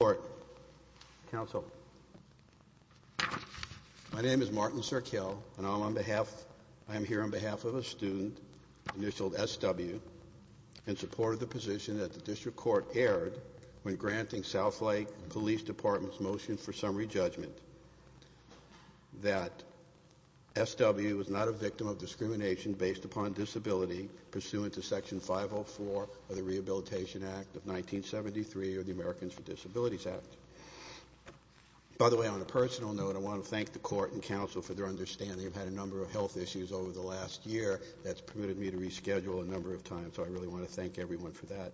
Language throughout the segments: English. Court. Counsel. My name is Martin Serkiel and I'm on behalf, I'm here on behalf of a student, initialed SW, in support of the position that the District Court erred when granting Southlake Police Department's motion for summary judgment that SW was not a victim of discrimination based upon disability pursuant to Section 504 of the Rehabilitation Act of 1973 or the Disabilities Act. By the way, on a personal note, I want to thank the court and counsel for their understanding. I've had a number of health issues over the last year that's permitted me to reschedule a number of times, so I really want to thank everyone for that.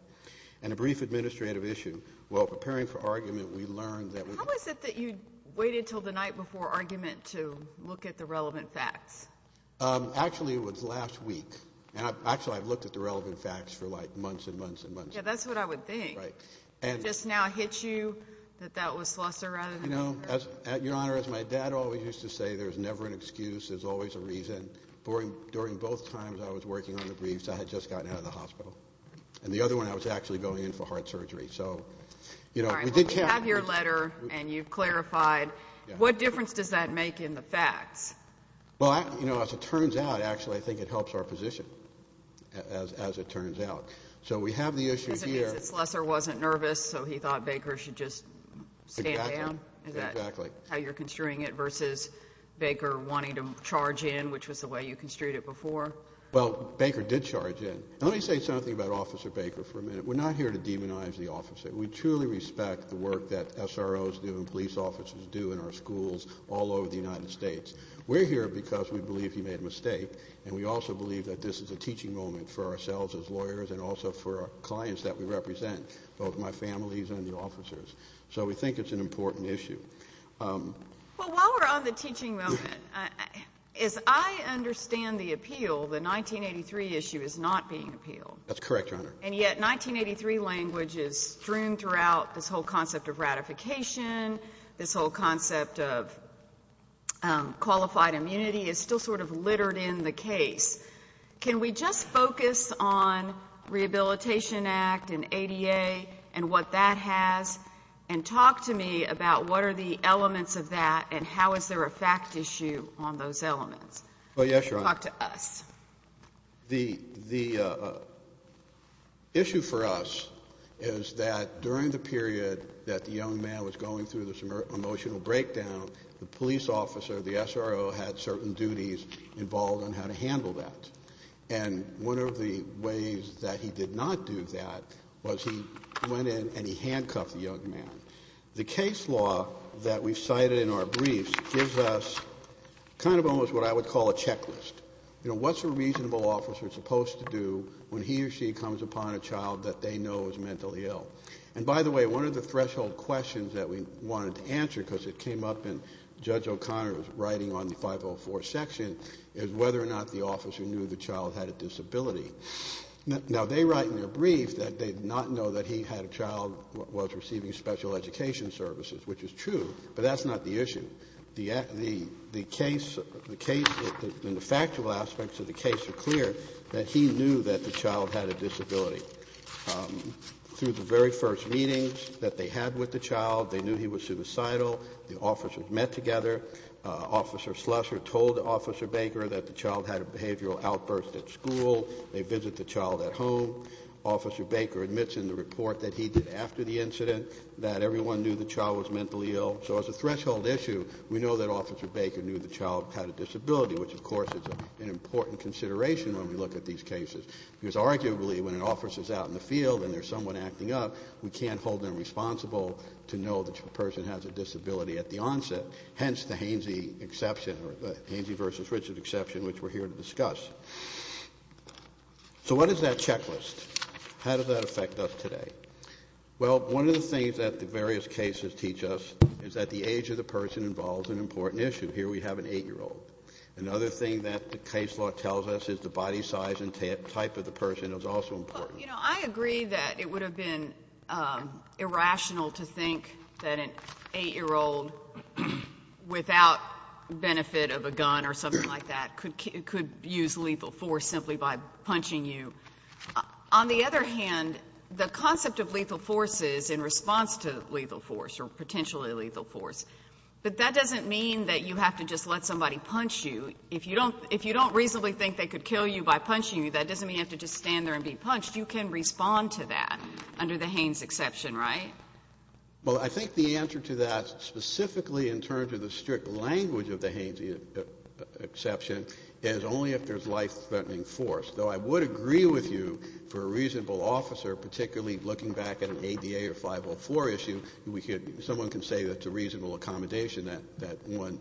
And a brief administrative issue. While preparing for argument, we learned that we... How is it that you waited until the night before argument to look at the relevant facts? Actually it was last week. And actually I've looked at the relevant facts for like months and months and months. Yeah, that's what I would think. It just now hits you that that was lesser rather than greater? You know, Your Honor, as my dad always used to say, there's never an excuse, there's always a reason. During both times I was working on the briefs, I had just gotten out of the hospital. And the other one, I was actually going in for heart surgery. So, you know, we did have... All right, well we have your letter and you've clarified. What difference does that make in the facts? Well, you know, as it turns out, actually I think it helps our position, as it turns out. So we have the issue here... Does it mean that Slessor wasn't nervous, so he thought Baker should just stand down? Exactly. Is that how you're construing it versus Baker wanting to charge in, which was the way you construed it before? Well, Baker did charge in. Let me say something about Officer Baker for a minute. We're not here to demonize the officer. We truly respect the work that SROs do and police officers do in our schools all over the United States. We're here because we believe he made a mistake and we also believe that this is a teaching moment for ourselves as lawyers and also for clients that we represent, both my families and the officers. So we think it's an important issue. Well, while we're on the teaching moment, as I understand the appeal, the 1983 issue is not being appealed. That's correct, Your Honor. And yet 1983 language is strewn throughout this whole concept of ratification, this whole case. Can we just focus on Rehabilitation Act and ADA and what that has, and talk to me about what are the elements of that and how is there a fact issue on those elements? Well, yes, Your Honor. Talk to us. The issue for us is that during the period that the young man was going through this mental illness, he was trying to handle that. And one of the ways that he did not do that was he went in and he handcuffed the young man. The case law that we've cited in our briefs gives us kind of almost what I would call a checklist. You know, what's a reasonable officer supposed to do when he or she comes upon a child that they know is mentally ill? And by the way, one of the threshold questions that we wanted to answer, because it came up in Judge O'Connor's writing on the 504 section, is whether or not the officer knew the child had a disability. Now, they write in their brief that they did not know that he had a child, was receiving special education services, which is true, but that's not the issue. The case, the factual aspects of the case are clear, that he knew that the child had a disability. Through the very first meetings that they had with the child, they knew he was suicidal. The officers met together. Officer Slusser told Officer Baker that the child had a behavioral outburst at school. They visit the child at home. Officer Baker admits in the report that he did after the incident that everyone knew the child was mentally ill. So as a threshold issue, we know that Officer Baker knew the child had a disability, which, of course, is an important consideration when we look at these cases. Because arguably, when an officer's out in the field and there's someone acting up, we can't hold them responsible to know that a person has a disability at the onset, hence the Hainsey exception, or the Hainsey v. Richard exception, which we're here to discuss. So what is that checklist? How does that affect us today? Well, one of the things that the various cases teach us is that the age of the person involves an important issue. Here we have an 8-year-old. Another thing that the case law tells us is the body size and type of the person is also important. Well, you know, I agree that it would have been irrational to think that an 8-year-old without benefit of a gun or something like that could use lethal force simply by punching you. On the other hand, the concept of lethal force is in response to lethal force or potentially lethal force. But that doesn't mean that you have to just let somebody punch you. If you don't reasonably think they could kill you by punching you, that doesn't mean you have to just stand there and be punched. You can respond to that under the Hainsey exception, right? Well, I think the answer to that, specifically in terms of the strict language of the Hainsey exception, is only if there's life-threatening force. Though I would agree with you, for a reasonable officer, particularly looking back at an ADA or 504 issue, someone can say that's a reasonable accommodation that one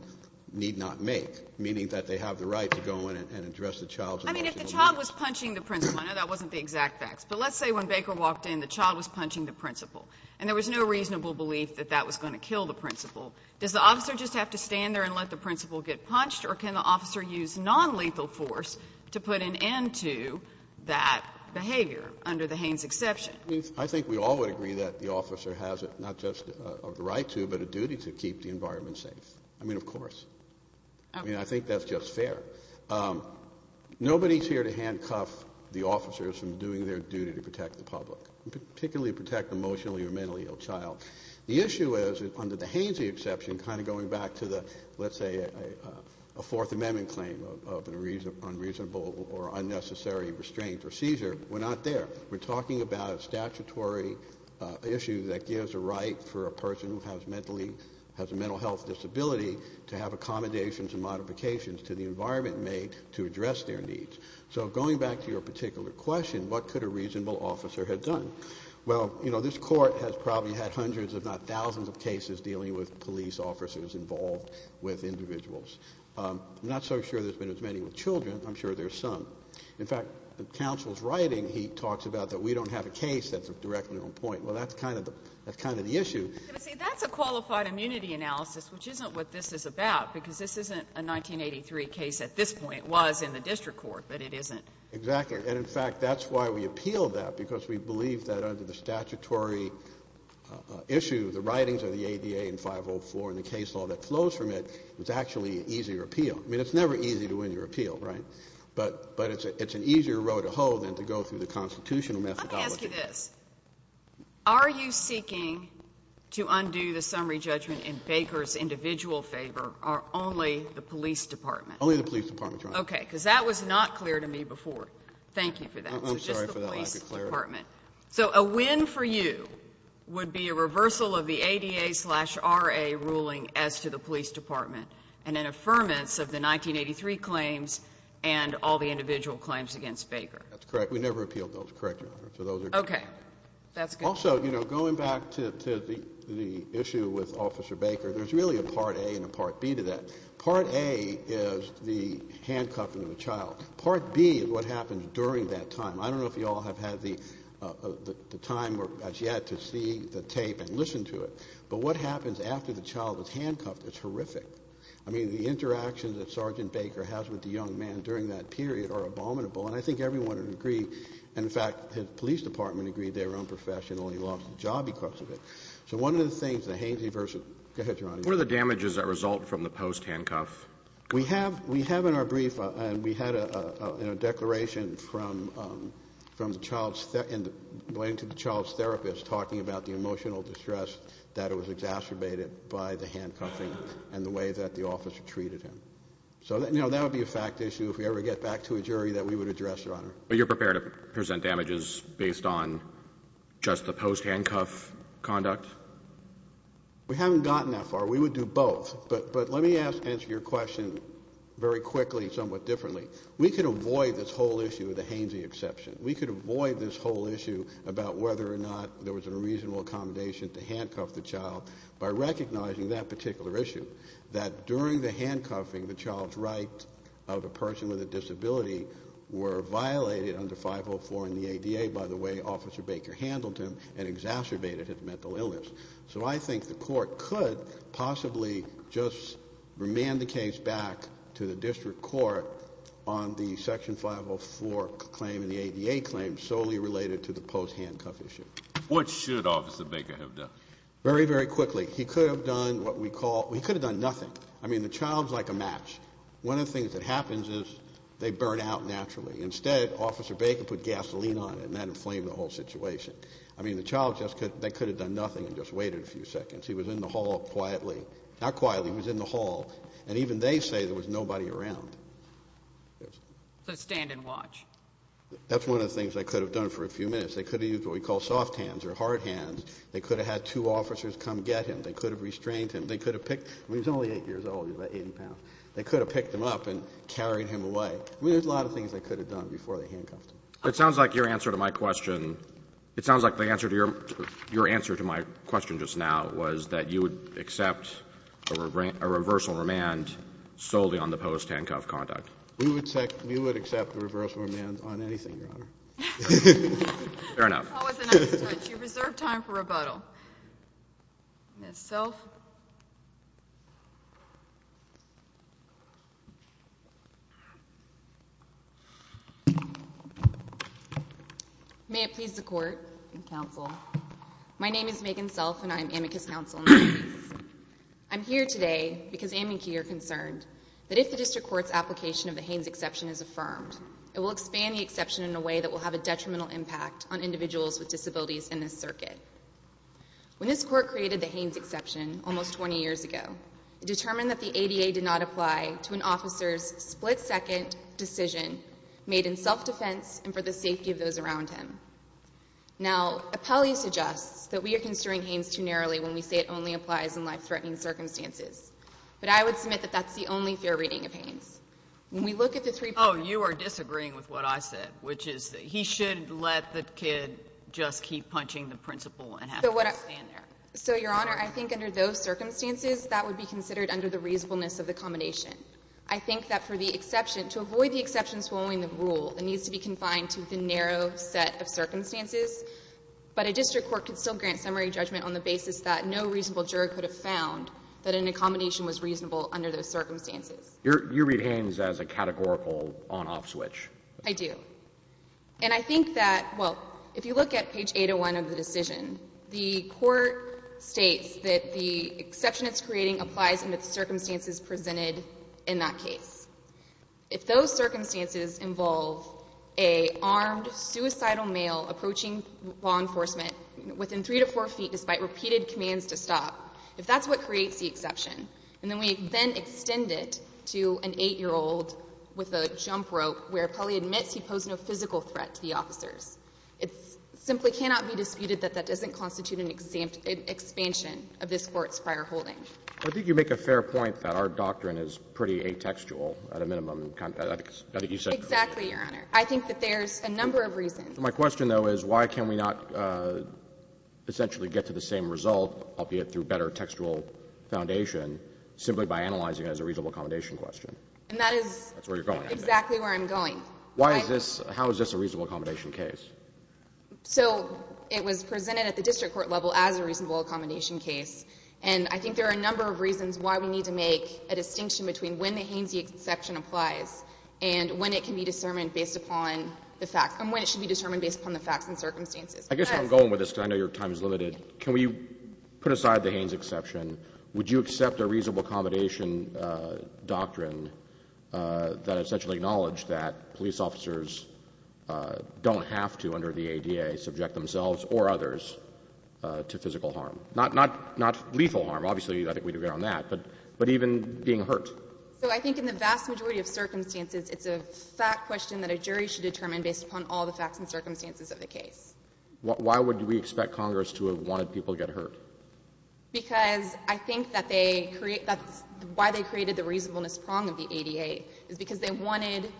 need not make, meaning that they have the right to go in and address the child's emotional needs. I mean, if the child was punching the principal, I know that wasn't the exact facts, but let's say when Baker walked in, the child was punching the principal, and there was no reasonable belief that that was going to kill the principal. Does the officer just have to stand there and let the principal get punched, or can the officer use nonlethal force to put an end to that behavior under the Haines exception? I think we all would agree that the officer has not just the right to, but a duty to keep the environment safe. I mean, of course. I mean, I think that's just fair. Nobody's here to handcuff the officers from doing their duty to protect the public, particularly protect emotionally or mentally ill child. The issue is, under the Haines exception, kind of going back to the, let's say, a Fourth Amendment claim of unreasonable or unnecessary restraint or seizure. We're not there. We're talking about a statutory issue that gives a right for a person who has a mental health disability to have accommodations and modifications to the environment made to address their needs. So going back to your particular question, what could a reasonable officer have done? Well, you know, this Court has probably had hundreds, if not thousands, of cases dealing with police officers involved with individuals. I'm not so sure there's been as many with children. I'm sure there's some. In fact, in counsel's writing, he talks about that we don't have a case that's directly on point. Well, that's kind of the issue. But see, that's a qualified immunity analysis, which isn't what this is about, because this isn't a 1983 case at this point. It was in the district court, but it isn't here. Exactly. And, in fact, that's why we appeal that, because we believe that under the statutory issue, the writings of the ADA and 504 and the case law that flows from it, it's actually an easier appeal. I mean, it's never easy to win your appeal, right? But it's an easier row to hoe than to go through the constitutional methodology. Let me ask you this. Are you seeking to undo the summary judgment in Baker's individual favor? Or only the police department? Only the police department, Your Honor. Okay. Because that was not clear to me before. Thank you for that. I'm sorry for that. I'll declare it. So a win for you would be a reversal of the ADA-RA ruling as to the police department and an affirmance of the 1983 claims and all the individual claims against Baker. That's correct. We never appealed those, correct, Your Honor. So those are different. Okay. That's good. Also, you know, going back to the issue with Officer Baker, there's really a part B to that. Part A is the handcuffing of the child. Part B is what happens during that time. I don't know if you all have had the time as yet to see the tape and listen to it. But what happens after the child is handcuffed, it's horrific. I mean, the interactions that Sergeant Baker has with the young man during that period are abominable. And I think everyone would agree. In fact, his police department agreed they were unprofessional. He lost his job because of it. So one of the things, the Hainsey versus, go ahead, Your Honor. What are the damages that result from the post-handcuff? We have in our brief, and we had a declaration from the child's therapist talking about the emotional distress that was exacerbated by the handcuffing and the way that the officer treated him. So, you know, that would be a fact issue if we ever get back to a jury that we would address, Your Honor. But you're prepared to present damages based on just the post-handcuff conduct? We haven't gotten that far. We would do both. But let me answer your question very quickly, somewhat differently. We could avoid this whole issue of the Hainsey exception. We could avoid this whole issue about whether or not there was a reasonable accommodation to handcuff the child by recognizing that particular issue, that during the handcuffing, the child's right of a person with a disability were violated under 504 in the ADA by the way Officer Baker handled him and exacerbated his mental illness. So I think the court could possibly just remand the case back to the district court on the section 504 claim and the ADA claim solely related to the post-handcuff issue. What should Officer Baker have done? Very, very quickly. He could have done what we call, he could have done nothing. I mean, the child's like a match. One of the things that happens is they burn out naturally. Instead, Officer Baker put gasoline on it and that inflamed the whole situation. I mean, the child just could, they could have done nothing and just waited a few seconds. He was in the hall quietly, not quietly, he was in the hall and even they say there was nobody around. So stand and watch. That's one of the things they could have done for a few minutes. They could have used what we call soft hands or hard hands. They could have had two officers come get him. They could have restrained him. They could have picked, I mean, he's only eight years old, he's about 80 pounds. They could have picked him up and carried him away. I mean, there's a lot of things they could have done before they handcuffed him. It sounds like your answer to my question. It sounds like the answer to your, your answer to my question just now was that you would accept a reversal remand solely on the post-handcuff conduct. We would accept, we would accept a reversal remand on anything, Your Honor. Fair enough. That was a nice touch. You reserved time for rebuttal. Ms. Self? May it please the Court and Counsel, my name is Megan Self and I'm amicus counsel in this case. I'm here today because I'm and you're concerned that if the district court's application of the Haynes exception is affirmed, it will expand the exception in a way that will have a detrimental impact on individuals with disabilities in this circuit. Almost 20 years ago, it determined that the ADA did not apply to an officer's split-second decision made in self-defense and for the safety of those around him. Now, appellee suggests that we are considering Haynes too narrowly when we say it only applies in life-threatening circumstances. But I would submit that that's the only fair reading of Haynes. When we look at the three. Oh, you are disagreeing with what I said, which is that he should let the kid just keep punching the principal and have him stand there. So, Your Honor, I think under those circumstances, that would be considered under the reasonableness of the combination. I think that for the exception, to avoid the exceptions following the rule, it needs to be confined to the narrow set of circumstances, but a district court could still grant summary judgment on the basis that no reasonable juror could have found that an accommodation was reasonable under those circumstances. You read Haynes as a categorical on-off switch. I do. And I think that, well, if you look at page 801 of the decision, the court states that the exception it's creating applies under the circumstances presented in that case. If those circumstances involve a armed, suicidal male approaching law enforcement within three to four feet despite repeated commands to stop, if that's what creates the exception, and then we then extend it to an eight-year-old with a jump rope where he probably admits he posed no physical threat to the officers, it simply cannot be disputed that that doesn't constitute an expansion of this Court's prior holding. I think you make a fair point that our doctrine is pretty atextual, at a minimum. I think you said. Exactly, Your Honor. I think that there's a number of reasons. My question, though, is why can we not essentially get to the same result, albeit through better textual foundation, simply by analyzing it as a reasonable accommodation question? And that is. That's where you're going. Exactly where I'm going. Why is this? How is this a reasonable accommodation case? So it was presented at the district court level as a reasonable accommodation case, and I think there are a number of reasons why we need to make a distinction between when the Haines exception applies and when it can be determined based upon the facts and when it should be determined based upon the facts and circumstances. I guess I'm going with this because I know your time is limited. Can we put aside the Haines exception? Would you accept a reasonable accommodation doctrine that essentially acknowledges that police officers don't have to, under the ADA, subject themselves or others to physical harm? Not lethal harm, obviously. I think we'd agree on that. But even being hurt. So I think in the vast majority of circumstances, it's a fact question that a jury should determine based upon all the facts and circumstances of the case. Why would we expect Congress to have wanted people to get hurt? Because I think that's why they created the reasonableness prong of the ADA, is they wanted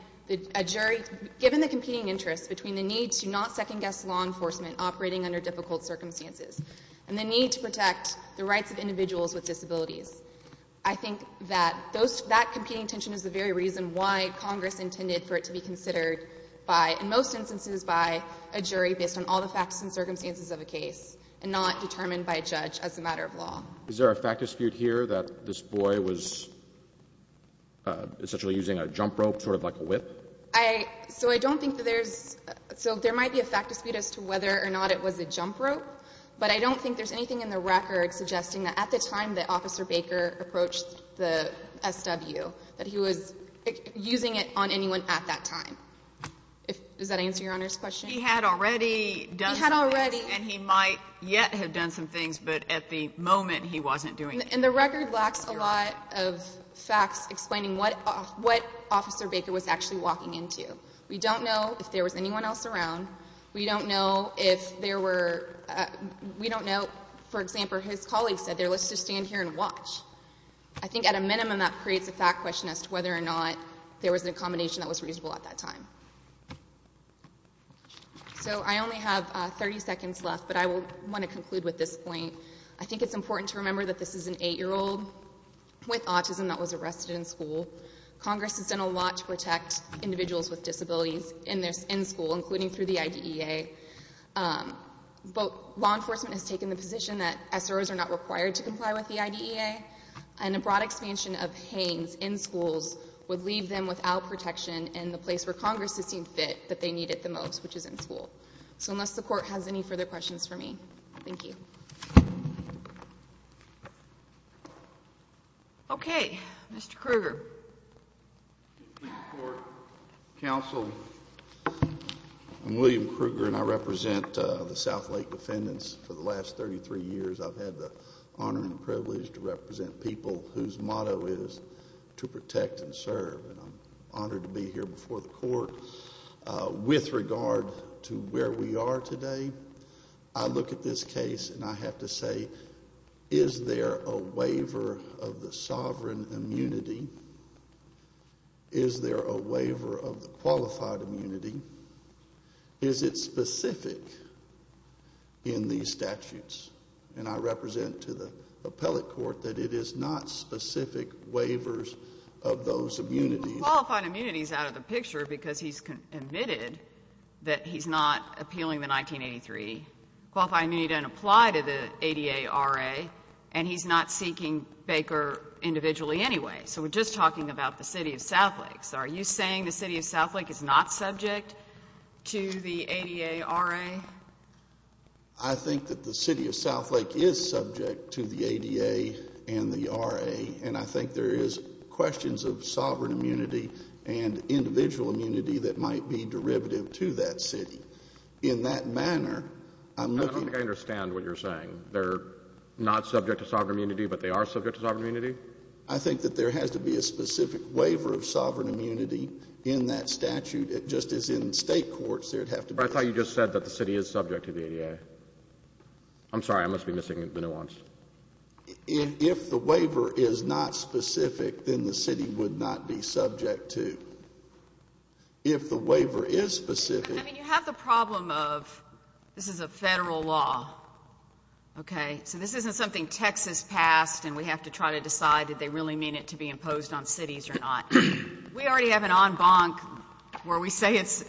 a jury, given the competing interests between the need to not second guess law enforcement operating under difficult circumstances and the need to protect the rights of individuals with disabilities, I think that those, that competing tension is the very reason why Congress intended for it to be considered by, in most instances, by a jury based on all the facts and circumstances of a case and not determined by a judge as a matter of law. Is there a fact dispute here that this boy was essentially using a jump rope, sort of like a whip? I, so I don't think that there's, so there might be a fact dispute as to whether or not it was a jump rope, but I don't think there's anything in the record suggesting that at the time that Officer Baker approached the SW, that he was using it on anyone at that time. If, does that answer Your Honor's question? He had already done some things, and he might yet have done some things, but at the moment, he wasn't doing anything. And the record lacks a lot of facts explaining what, what Officer Baker was actually walking into. We don't know if there was anyone else around. We don't know if there were, we don't know, for example, his colleague said there, let's just stand here and watch. I think at a minimum, that creates a fact question as to whether or not there was an accommodation that was reasonable at that time. So I only have 30 seconds left, but I will want to conclude with this point. I think it's important to remember that this is an 8-year-old with autism that was arrested in school. Congress has done a lot to protect individuals with disabilities in their, in school, including through the IDEA, but law enforcement has taken the position that SROs are not required to comply with the IDEA, and a broad expansion of HANES in schools would leave them without protection in the place where Congress has seen fit that they need it the most, which is in school. So unless the Court has any further questions for me, thank you. Okay. Mr. Krueger. I'm William Krueger, and I represent the Southlake defendants for the last 33 years. I've had the honor and privilege to represent people whose motto is to protect and serve, and I'm honored to be here before the Court. With regard to where we are today, I look at this case, and I have to say, is there a waiver of the sovereign immunity? Is there a waiver of the qualified immunity? Is it specific in these statutes? And I represent to the appellate court that it is not specific waivers of those immunities. Qualified immunity is out of the picture, because he's admitted that he's not appealing the 1983. Qualified immunity doesn't apply to the ADA, RA, and he's not seeking Baker individually anyway. So we're just talking about the City of Southlake. Are you saying the City of Southlake is not subject to the ADA, RA? I think that the City of Southlake is subject to the ADA and the RA, and I think there is questions of sovereign immunity and individual immunity that might be derivative to that city. In that manner, I'm looking at – I don't think I understand what you're saying. They're not subject to sovereign immunity, but they are subject to sovereign immunity? I think that there has to be a specific waiver of sovereign immunity in that statute, just as in state courts, there'd have to be – I thought you just said that the city is subject to the ADA. I'm sorry. I must be missing the nuance. If the waiver is not specific, then the city would not be subject to. If the waiver is specific – I mean, you have the problem of – this is a Federal law, okay? So this isn't something Texas passed and we have to try to decide that they really mean it to be imposed on cities or not. We already have an en banc where we say it's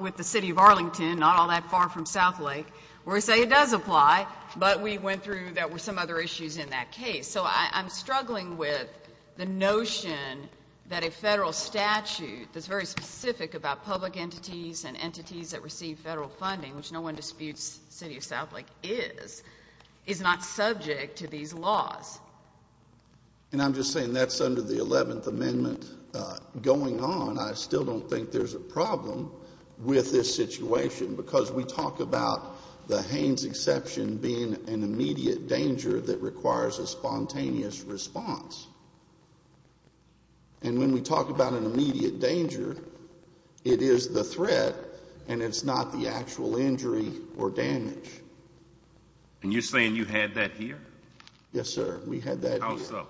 with the City of Arlington, not all that far from Southlake, where we say it does apply, but we went through – there were some other issues in that case. So I'm struggling with the notion that a Federal statute that's very specific about public entities and entities that receive Federal funding, which no one disputes City of Southlake is, is not subject to these laws. And I'm just saying that's under the 11th Amendment going on. I still don't think there's a problem with this situation because we talk about the Haynes exception being an immediate danger that requires a spontaneous response. And when we talk about an immediate danger, it is the threat and it's not the actual injury or damage. And you're saying you had that here? Yes, sir. We had that here. How so? How so?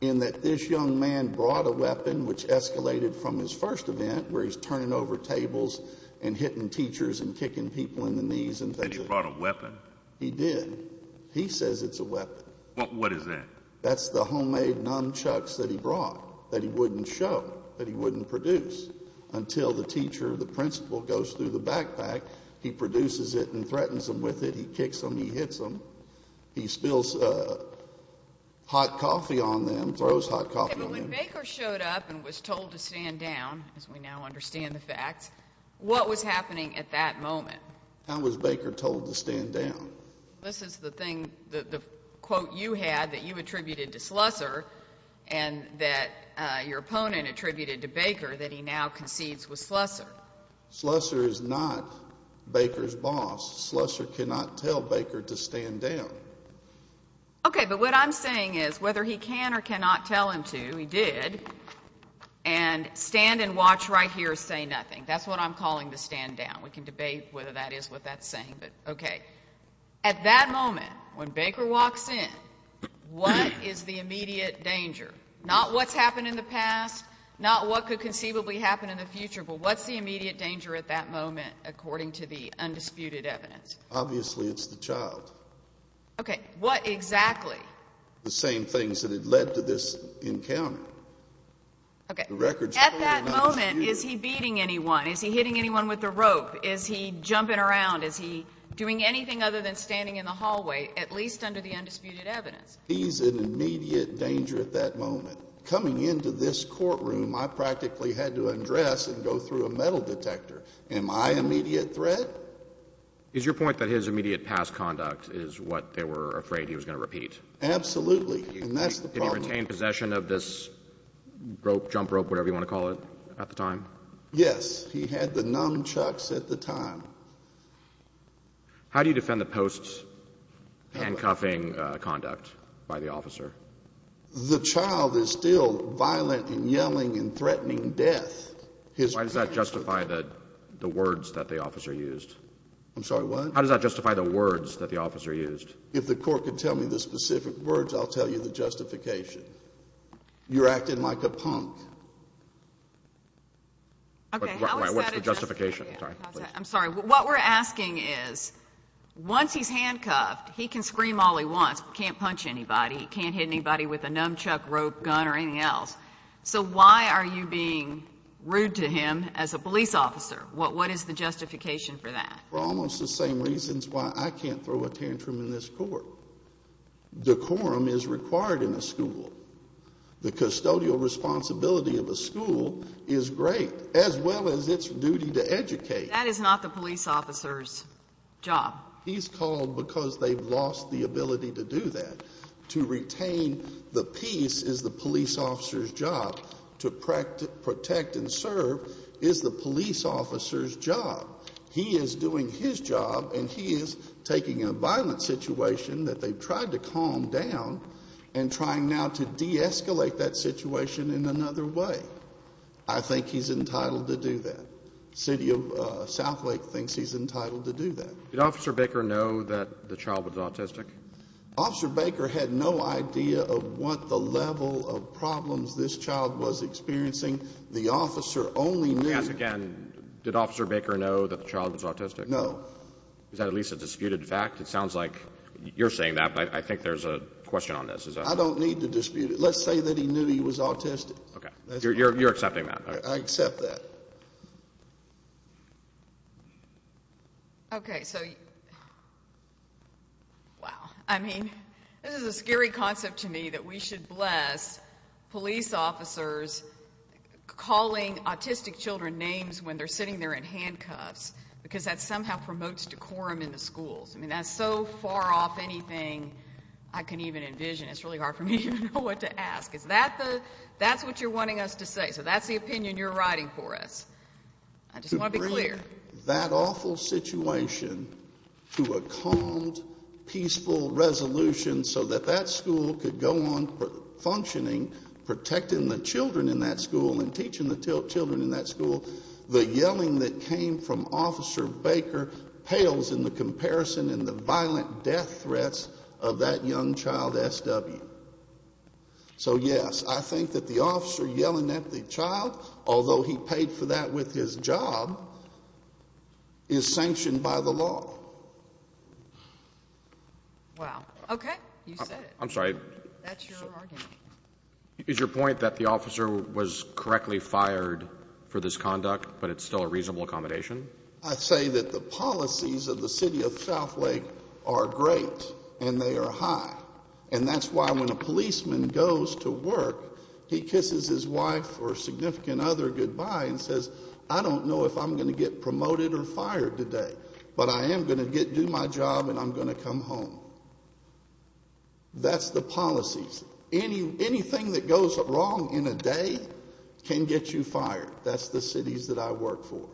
In that this young man brought a weapon which escalated from his first event, where he's turning over tables and hitting teachers and kicking people in the knees and things like that. And he brought a weapon? He did. He says it's a weapon. What is that? That's the homemade nunchucks that he brought that he wouldn't show, that he wouldn't produce until the teacher, the principal goes through the backpack, he produces it and threatens them with it. He kicks them, he hits them. He spills hot coffee on them, throws hot coffee on them. But when Baker showed up and was told to stand down, as we now understand the facts, what was happening at that moment? How was Baker told to stand down? This is the thing, the quote you had that you attributed to Slusser and that your opponent attributed to Baker that he now concedes with Slusser. Slusser is not Baker's boss. Slusser cannot tell Baker to stand down. Okay, but what I'm saying is, whether he can or cannot tell him to, he did, and stand and watch right here say nothing. That's what I'm calling the stand down. We can debate whether that is what that's saying, but okay. At that moment, when Baker walks in, what is the immediate danger? Not what's happened in the past, not what could conceivably happen in the future, but what's the immediate danger at that moment, according to the undisputed evidence? Obviously, it's the child. Okay, what exactly? The same things that had led to this encounter. Okay. At that moment, is he beating anyone? Is he hitting anyone with a rope? Is he jumping around? Is he doing anything other than standing in the hallway, at least under the undisputed evidence? He's in immediate danger at that moment. Coming into this courtroom, I practically had to undress and go through a metal detector. Am I immediate threat? Is your point that his immediate past conduct is what they were afraid he was going to repeat? Absolutely, and that's the problem. Did he retain possession of this rope, jump rope, whatever you want to call it, at the time? Yes. He had the nunchucks at the time. How do you defend the post's handcuffing conduct by the officer? The child is still violent and yelling and threatening death. Why does that justify the words that the officer used? I'm sorry, what? How does that justify the words that the officer used? If the court could tell me the specific words, I'll tell you the justification. You're acting like a punk. Okay, how is that a justification? What's the justification? I'm sorry. What we're asking is, once he's handcuffed, he can scream all he wants, can't punch anybody, can't hit anybody with a nunchuck, rope, gun, or anything else. So why are you being rude to him as a police officer? What is the justification for that? For almost the same reasons why I can't throw a tantrum in this court. Decorum is required in a school. The custodial responsibility of a school is great, as well as its duty to educate. That is not the police officer's job. He's called because they've lost the ability to do that. To retain the peace is the police officer's job. To protect and serve is the police officer's job. He is doing his job, and he is taking a violent situation that they've tried to calm down and trying now to de-escalate that situation in another way. I think he's entitled to do that. The city of Southlake thinks he's entitled to do that. Did Officer Baker know that the child was autistic? Officer Baker had no idea of what the level of problems this child was experiencing. The officer only knew— Let me ask again. Did Officer Baker know that the child was autistic? No. Is that at least a disputed fact? It sounds like you're saying that, but I think there's a question on this. I don't need to dispute it. Let's say that he knew he was autistic. Okay. You're accepting that? I accept that. Okay. So, wow. I mean, this is a scary concept to me that we should bless police officers calling autistic children names when they're sitting there in handcuffs because that somehow promotes decorum in the schools. I mean, that's so far off anything I can even envision. It's really hard for me to know what to ask. Is that the—that's what you're wanting us to say? So that's the opinion you're writing for us. I just want to be clear. To bring that awful situation to a calm, peaceful resolution so that that school could go on functioning, protecting the children in that school and teaching the children in that school, the yelling that came from Officer Baker pales in the comparison and the violent death threats of that young child, S.W. So, yes, I think that the officer yelling at the child, although he paid for that with his job, is sanctioned by the law. Wow. Okay. You said it. I'm sorry. That's your argument. Is your point that the officer was correctly fired for this conduct but it's still a reasonable accommodation? I say that the policies of the city of Southlake are great and they are high, and that's why when a policeman goes to work, he kisses his wife or significant other goodbye and says, I don't know if I'm going to get promoted or fired today, but I am going to do my job and I'm going to come home. That's the policies. Anything that goes wrong in a day can get you fired. That's the cities that I work for.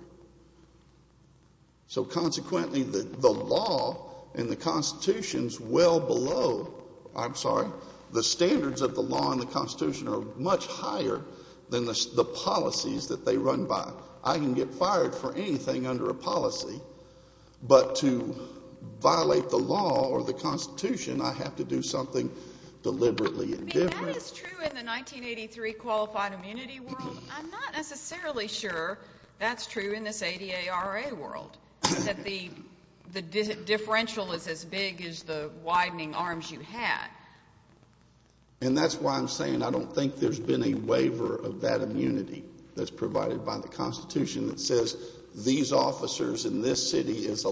So, consequently, the law in the Constitution is well below, I'm sorry, the standards of the law in the Constitution are much higher than the policies that they run by. I can get fired for anything under a policy, but to violate the law or the Constitution, I have to do something deliberately different. I mean, that is true in the 1983 qualified immunity world. I'm not necessarily sure that's true in this ADARA world, that the differential is as big as the widening arms you have. And that's why I'm saying I don't think there's been a waiver of that immunity that's provided by the Constitution that says these officers in this city are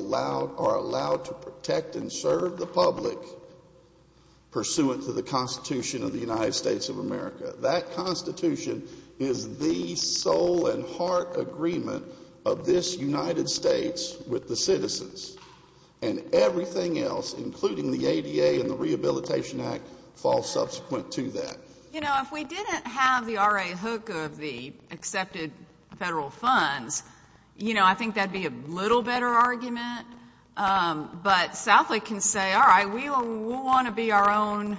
allowed to protect and serve the public pursuant to the Constitution of the United States of America. That Constitution is the soul and heart agreement of this United States with the citizens. And everything else, including the ADA and the Rehabilitation Act, falls subsequent to that. You know, if we didn't have the RA hook of the accepted federal funds, you know, I think that would be a little better argument. But Southlake can say, all right, we will want to be our own.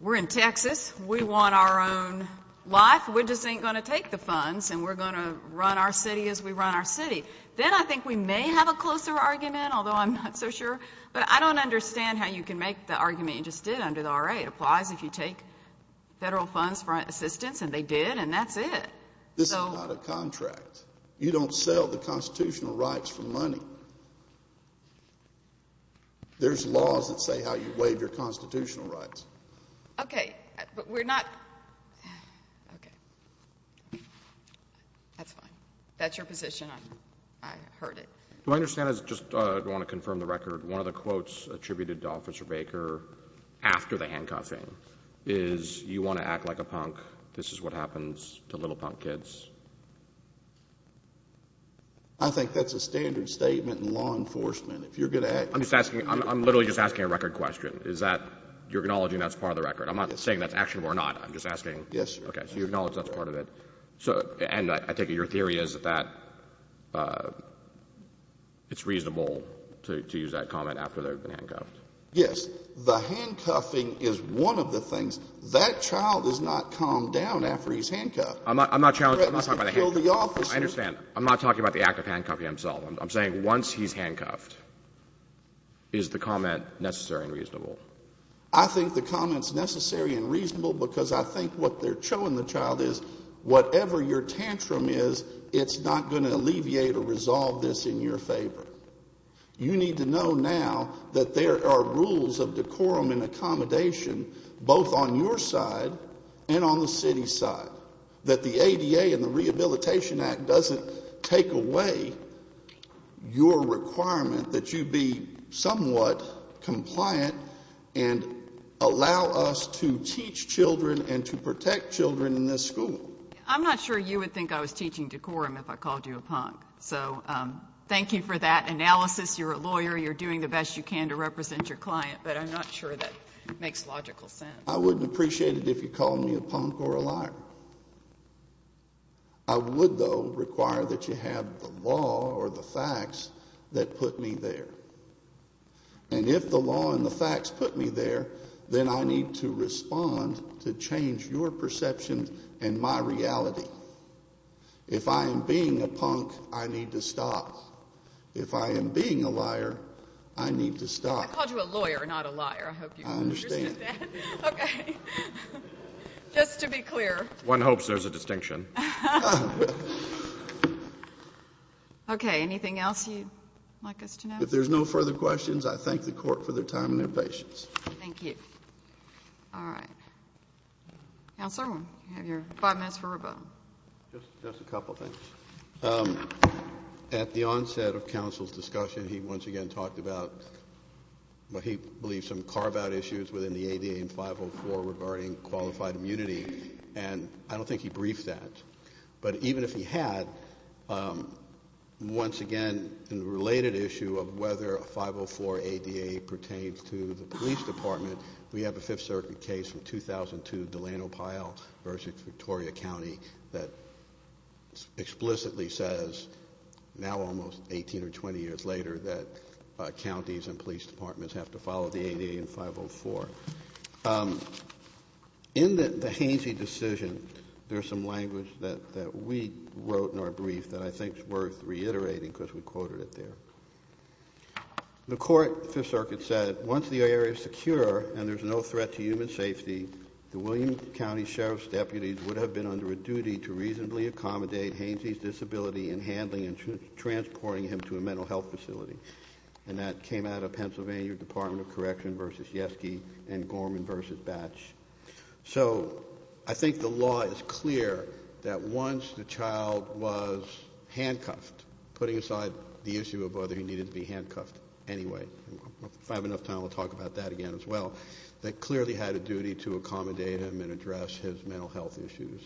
We're in Texas. We want our own life. We just ain't going to take the funds, and we're going to run our city as we run our city. Then I think we may have a closer argument, although I'm not so sure. But I don't understand how you can make the argument you just did under the RA. It applies if you take federal funds for assistance, and they did, and that's it. This is not a contract. You don't sell the constitutional rights for money. There's laws that say how you waive your constitutional rights. Okay. But we're not. Okay. That's fine. That's your position. I heard it. Do I understand, I just want to confirm the record. One of the quotes attributed to Officer Baker after the handcuffing is, you want to act like a punk. This is what happens to little punk kids. I think that's a standard statement in law enforcement. If you're going to act. I'm just asking. I'm literally just asking a record question. Is that you're acknowledging that's part of the record? I'm not saying that's actionable or not. I'm just asking. Yes, sir. Okay. So you acknowledge that's part of it. And I take it your theory is that it's reasonable to use that comment after they've been handcuffed. Yes. The handcuffing is one of the things. That child is not calmed down after he's handcuffed. I'm not challenging. I'm not talking about the handcuffing. I understand. I'm not talking about the act of handcuffing himself. I'm saying once he's handcuffed, is the comment necessary and reasonable? I think the comment's necessary and reasonable because I think what they're showing the child is, whatever your tantrum is, it's not going to alleviate or resolve this in your favor. You need to know now that there are rules of decorum and accommodation both on your side and on the city side, that the ADA and the Rehabilitation Act doesn't take away your requirement that you be somewhat compliant and allow us to teach children and to protect children in this school. I'm not sure you would think I was teaching decorum if I called you a punk. So thank you for that analysis. You're a lawyer. You're doing the best you can to represent your client, but I'm not sure that makes logical sense. I wouldn't appreciate it if you called me a punk or a liar. I would, though, require that you have the law or the facts that put me there. And if the law and the facts put me there, then I need to respond to change your perception and my reality. If I am being a punk, I need to stop. If I am being a liar, I need to stop. I called you a lawyer, not a liar. I hope you understood that. I understand. Okay. Just to be clear. One hopes there's a distinction. Okay. Anything else you'd like us to know? If there's no further questions, I thank the Court for their time and their patience. Thank you. All right. Counselor, you have your five minutes for rebuttal. Just a couple things. At the onset of counsel's discussion, he once again talked about what he believes some carve-out issues within the ADA and 504 regarding qualified immunity, and I don't think he briefed that. But even if he had, once again, in the related issue of whether a 504 ADA pertains to the police department, we have a Fifth Circuit case from 2002, Delano Pyle versus Victoria County, that explicitly says, now almost 18 or 20 years later, that counties and police departments have to follow the ADA and 504. In the Hainsey decision, there's some language that we wrote in our brief that I think is worth reiterating because we quoted it there. The Court, the Fifth Circuit said, once the area is secure and there's no threat to human safety, the William County Sheriff's deputies would have been under a duty to reasonably accommodate Hainsey's disability in handling and transporting him to a mental health facility. And that came out of Pennsylvania Department of Correction versus Yeske and Gorman versus Batch. So I think the law is clear that once the child was handcuffed, putting aside the issue of whether he needed to be handcuffed anyway, if I have enough time, I'll talk about that again as well, that clearly had a duty to accommodate him and address his mental health issues.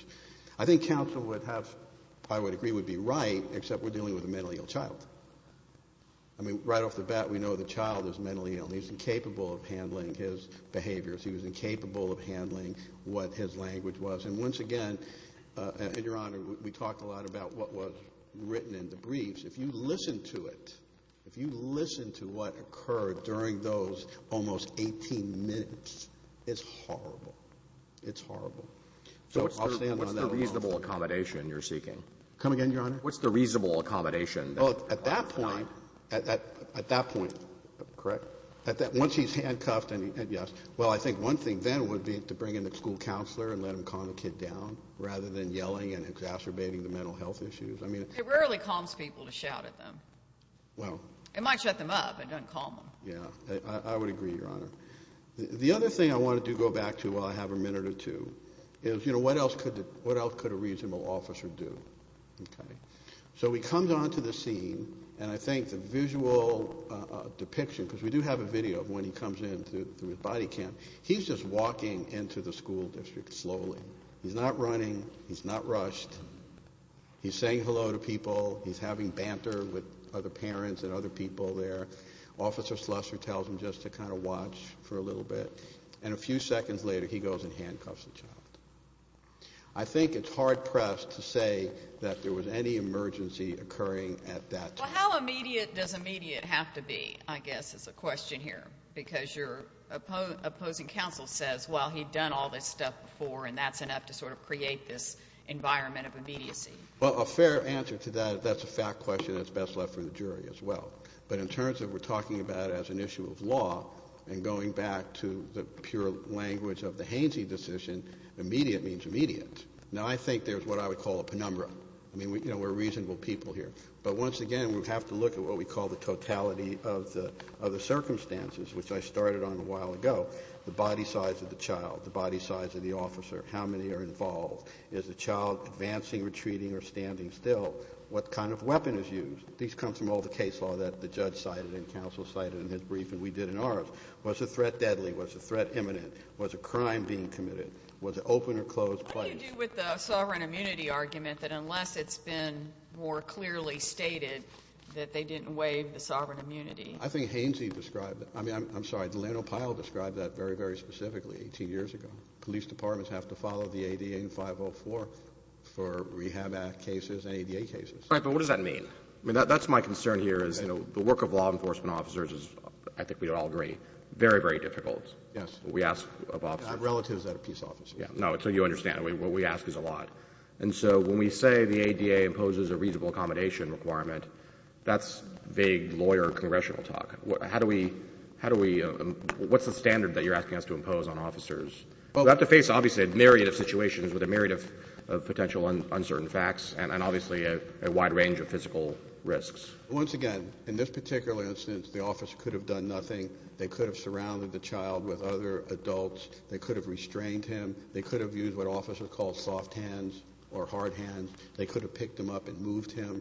I think counsel would have, I would agree, would be right, except we're dealing with a mentally ill child. I mean, right off the bat, we know the child is mentally ill. He's incapable of handling his behaviors. He was incapable of handling what his language was. And once again, Your Honor, we talked a lot about what was written in the briefs. If you listen to it, if you listen to what occurred during those almost 18 minutes, it's horrible. It's horrible. So I'll stand on that alone. What's the reasonable accommodation you're seeking? Come again, Your Honor? What's the reasonable accommodation? Well, at that point, at that point. Correct? Once he's handcuffed, yes. Well, I think one thing then would be to bring in the school counselor and let him calm the kid down rather than yelling and exacerbating the mental health issues. It rarely calms people to shout at them. Well. It might shut them up. It doesn't calm them. Yeah. I would agree, Your Honor. The other thing I wanted to go back to while I have a minute or two is, you know, what else could a reasonable officer do? Okay. So he comes onto the scene, and I think the visual depiction, because we do have a video of when he comes in through his body cam, he's just walking into the school district slowly. He's not running. He's not rushed. He's saying hello to people. He's having banter with other parents and other people there. Officer Schleser tells him just to kind of watch for a little bit, and a few seconds later he goes and handcuffs the child. I think it's hard-pressed to say that there was any emergency occurring at that time. Well, how immediate does immediate have to be, I guess, is the question here? Because your opposing counsel says, well, he'd done all this stuff before, and that's enough to sort of create this environment of immediacy. Well, a fair answer to that is that's a fact question that's best left for the jury as well. But in terms of what we're talking about as an issue of law and going back to the pure language of the Hainsey decision, immediate means immediate. Now, I think there's what I would call a penumbra. I mean, you know, we're reasonable people here. But once again, we have to look at what we call the totality of the circumstances, which I started on a while ago, the body size of the child, the body size of the officer, how many are involved, is the child advancing, retreating, or standing still, what kind of weapon is used. These come from all the case law that the judge cited and counsel cited in his brief and we did in ours. Was the threat deadly? Was the threat imminent? Was a crime being committed? Was it open or closed place? What do you do with the sovereign immunity argument that unless it's been more clearly stated that they didn't waive the sovereign immunity? I think Hainsey described it. I mean, I'm sorry, Delano Pyle described that very, very specifically 18 years ago. Police departments have to follow the ADA in 504 for rehab act cases and ADA cases. All right, but what does that mean? I mean, that's my concern here is, you know, the work of law enforcement officers is, I think we would all agree, very, very difficult. Yes. What we ask of officers. I have relatives that are peace officers. No, so you understand. What we ask is a lot. And so when we say the ADA imposes a reasonable accommodation requirement, that's vague lawyer congressional talk. How do we – how do we – what's the standard that you're asking us to impose on officers? We have to face, obviously, a myriad of situations with a myriad of potential uncertain facts and obviously a wide range of physical risks. Once again, in this particular instance, the officer could have done nothing. They could have surrounded the child with other adults. They could have restrained him. They could have used what officers call soft hands or hard hands. They could have picked him up and moved him.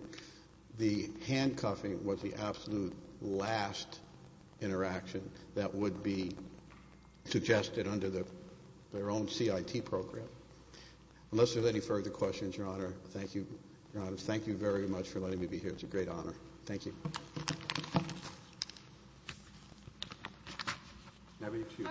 The handcuffing was the absolute last interaction that would be suggested under their own CIT program. Unless there are any further questions, Your Honor, thank you very much for letting me be here. It's a great honor. Thank you.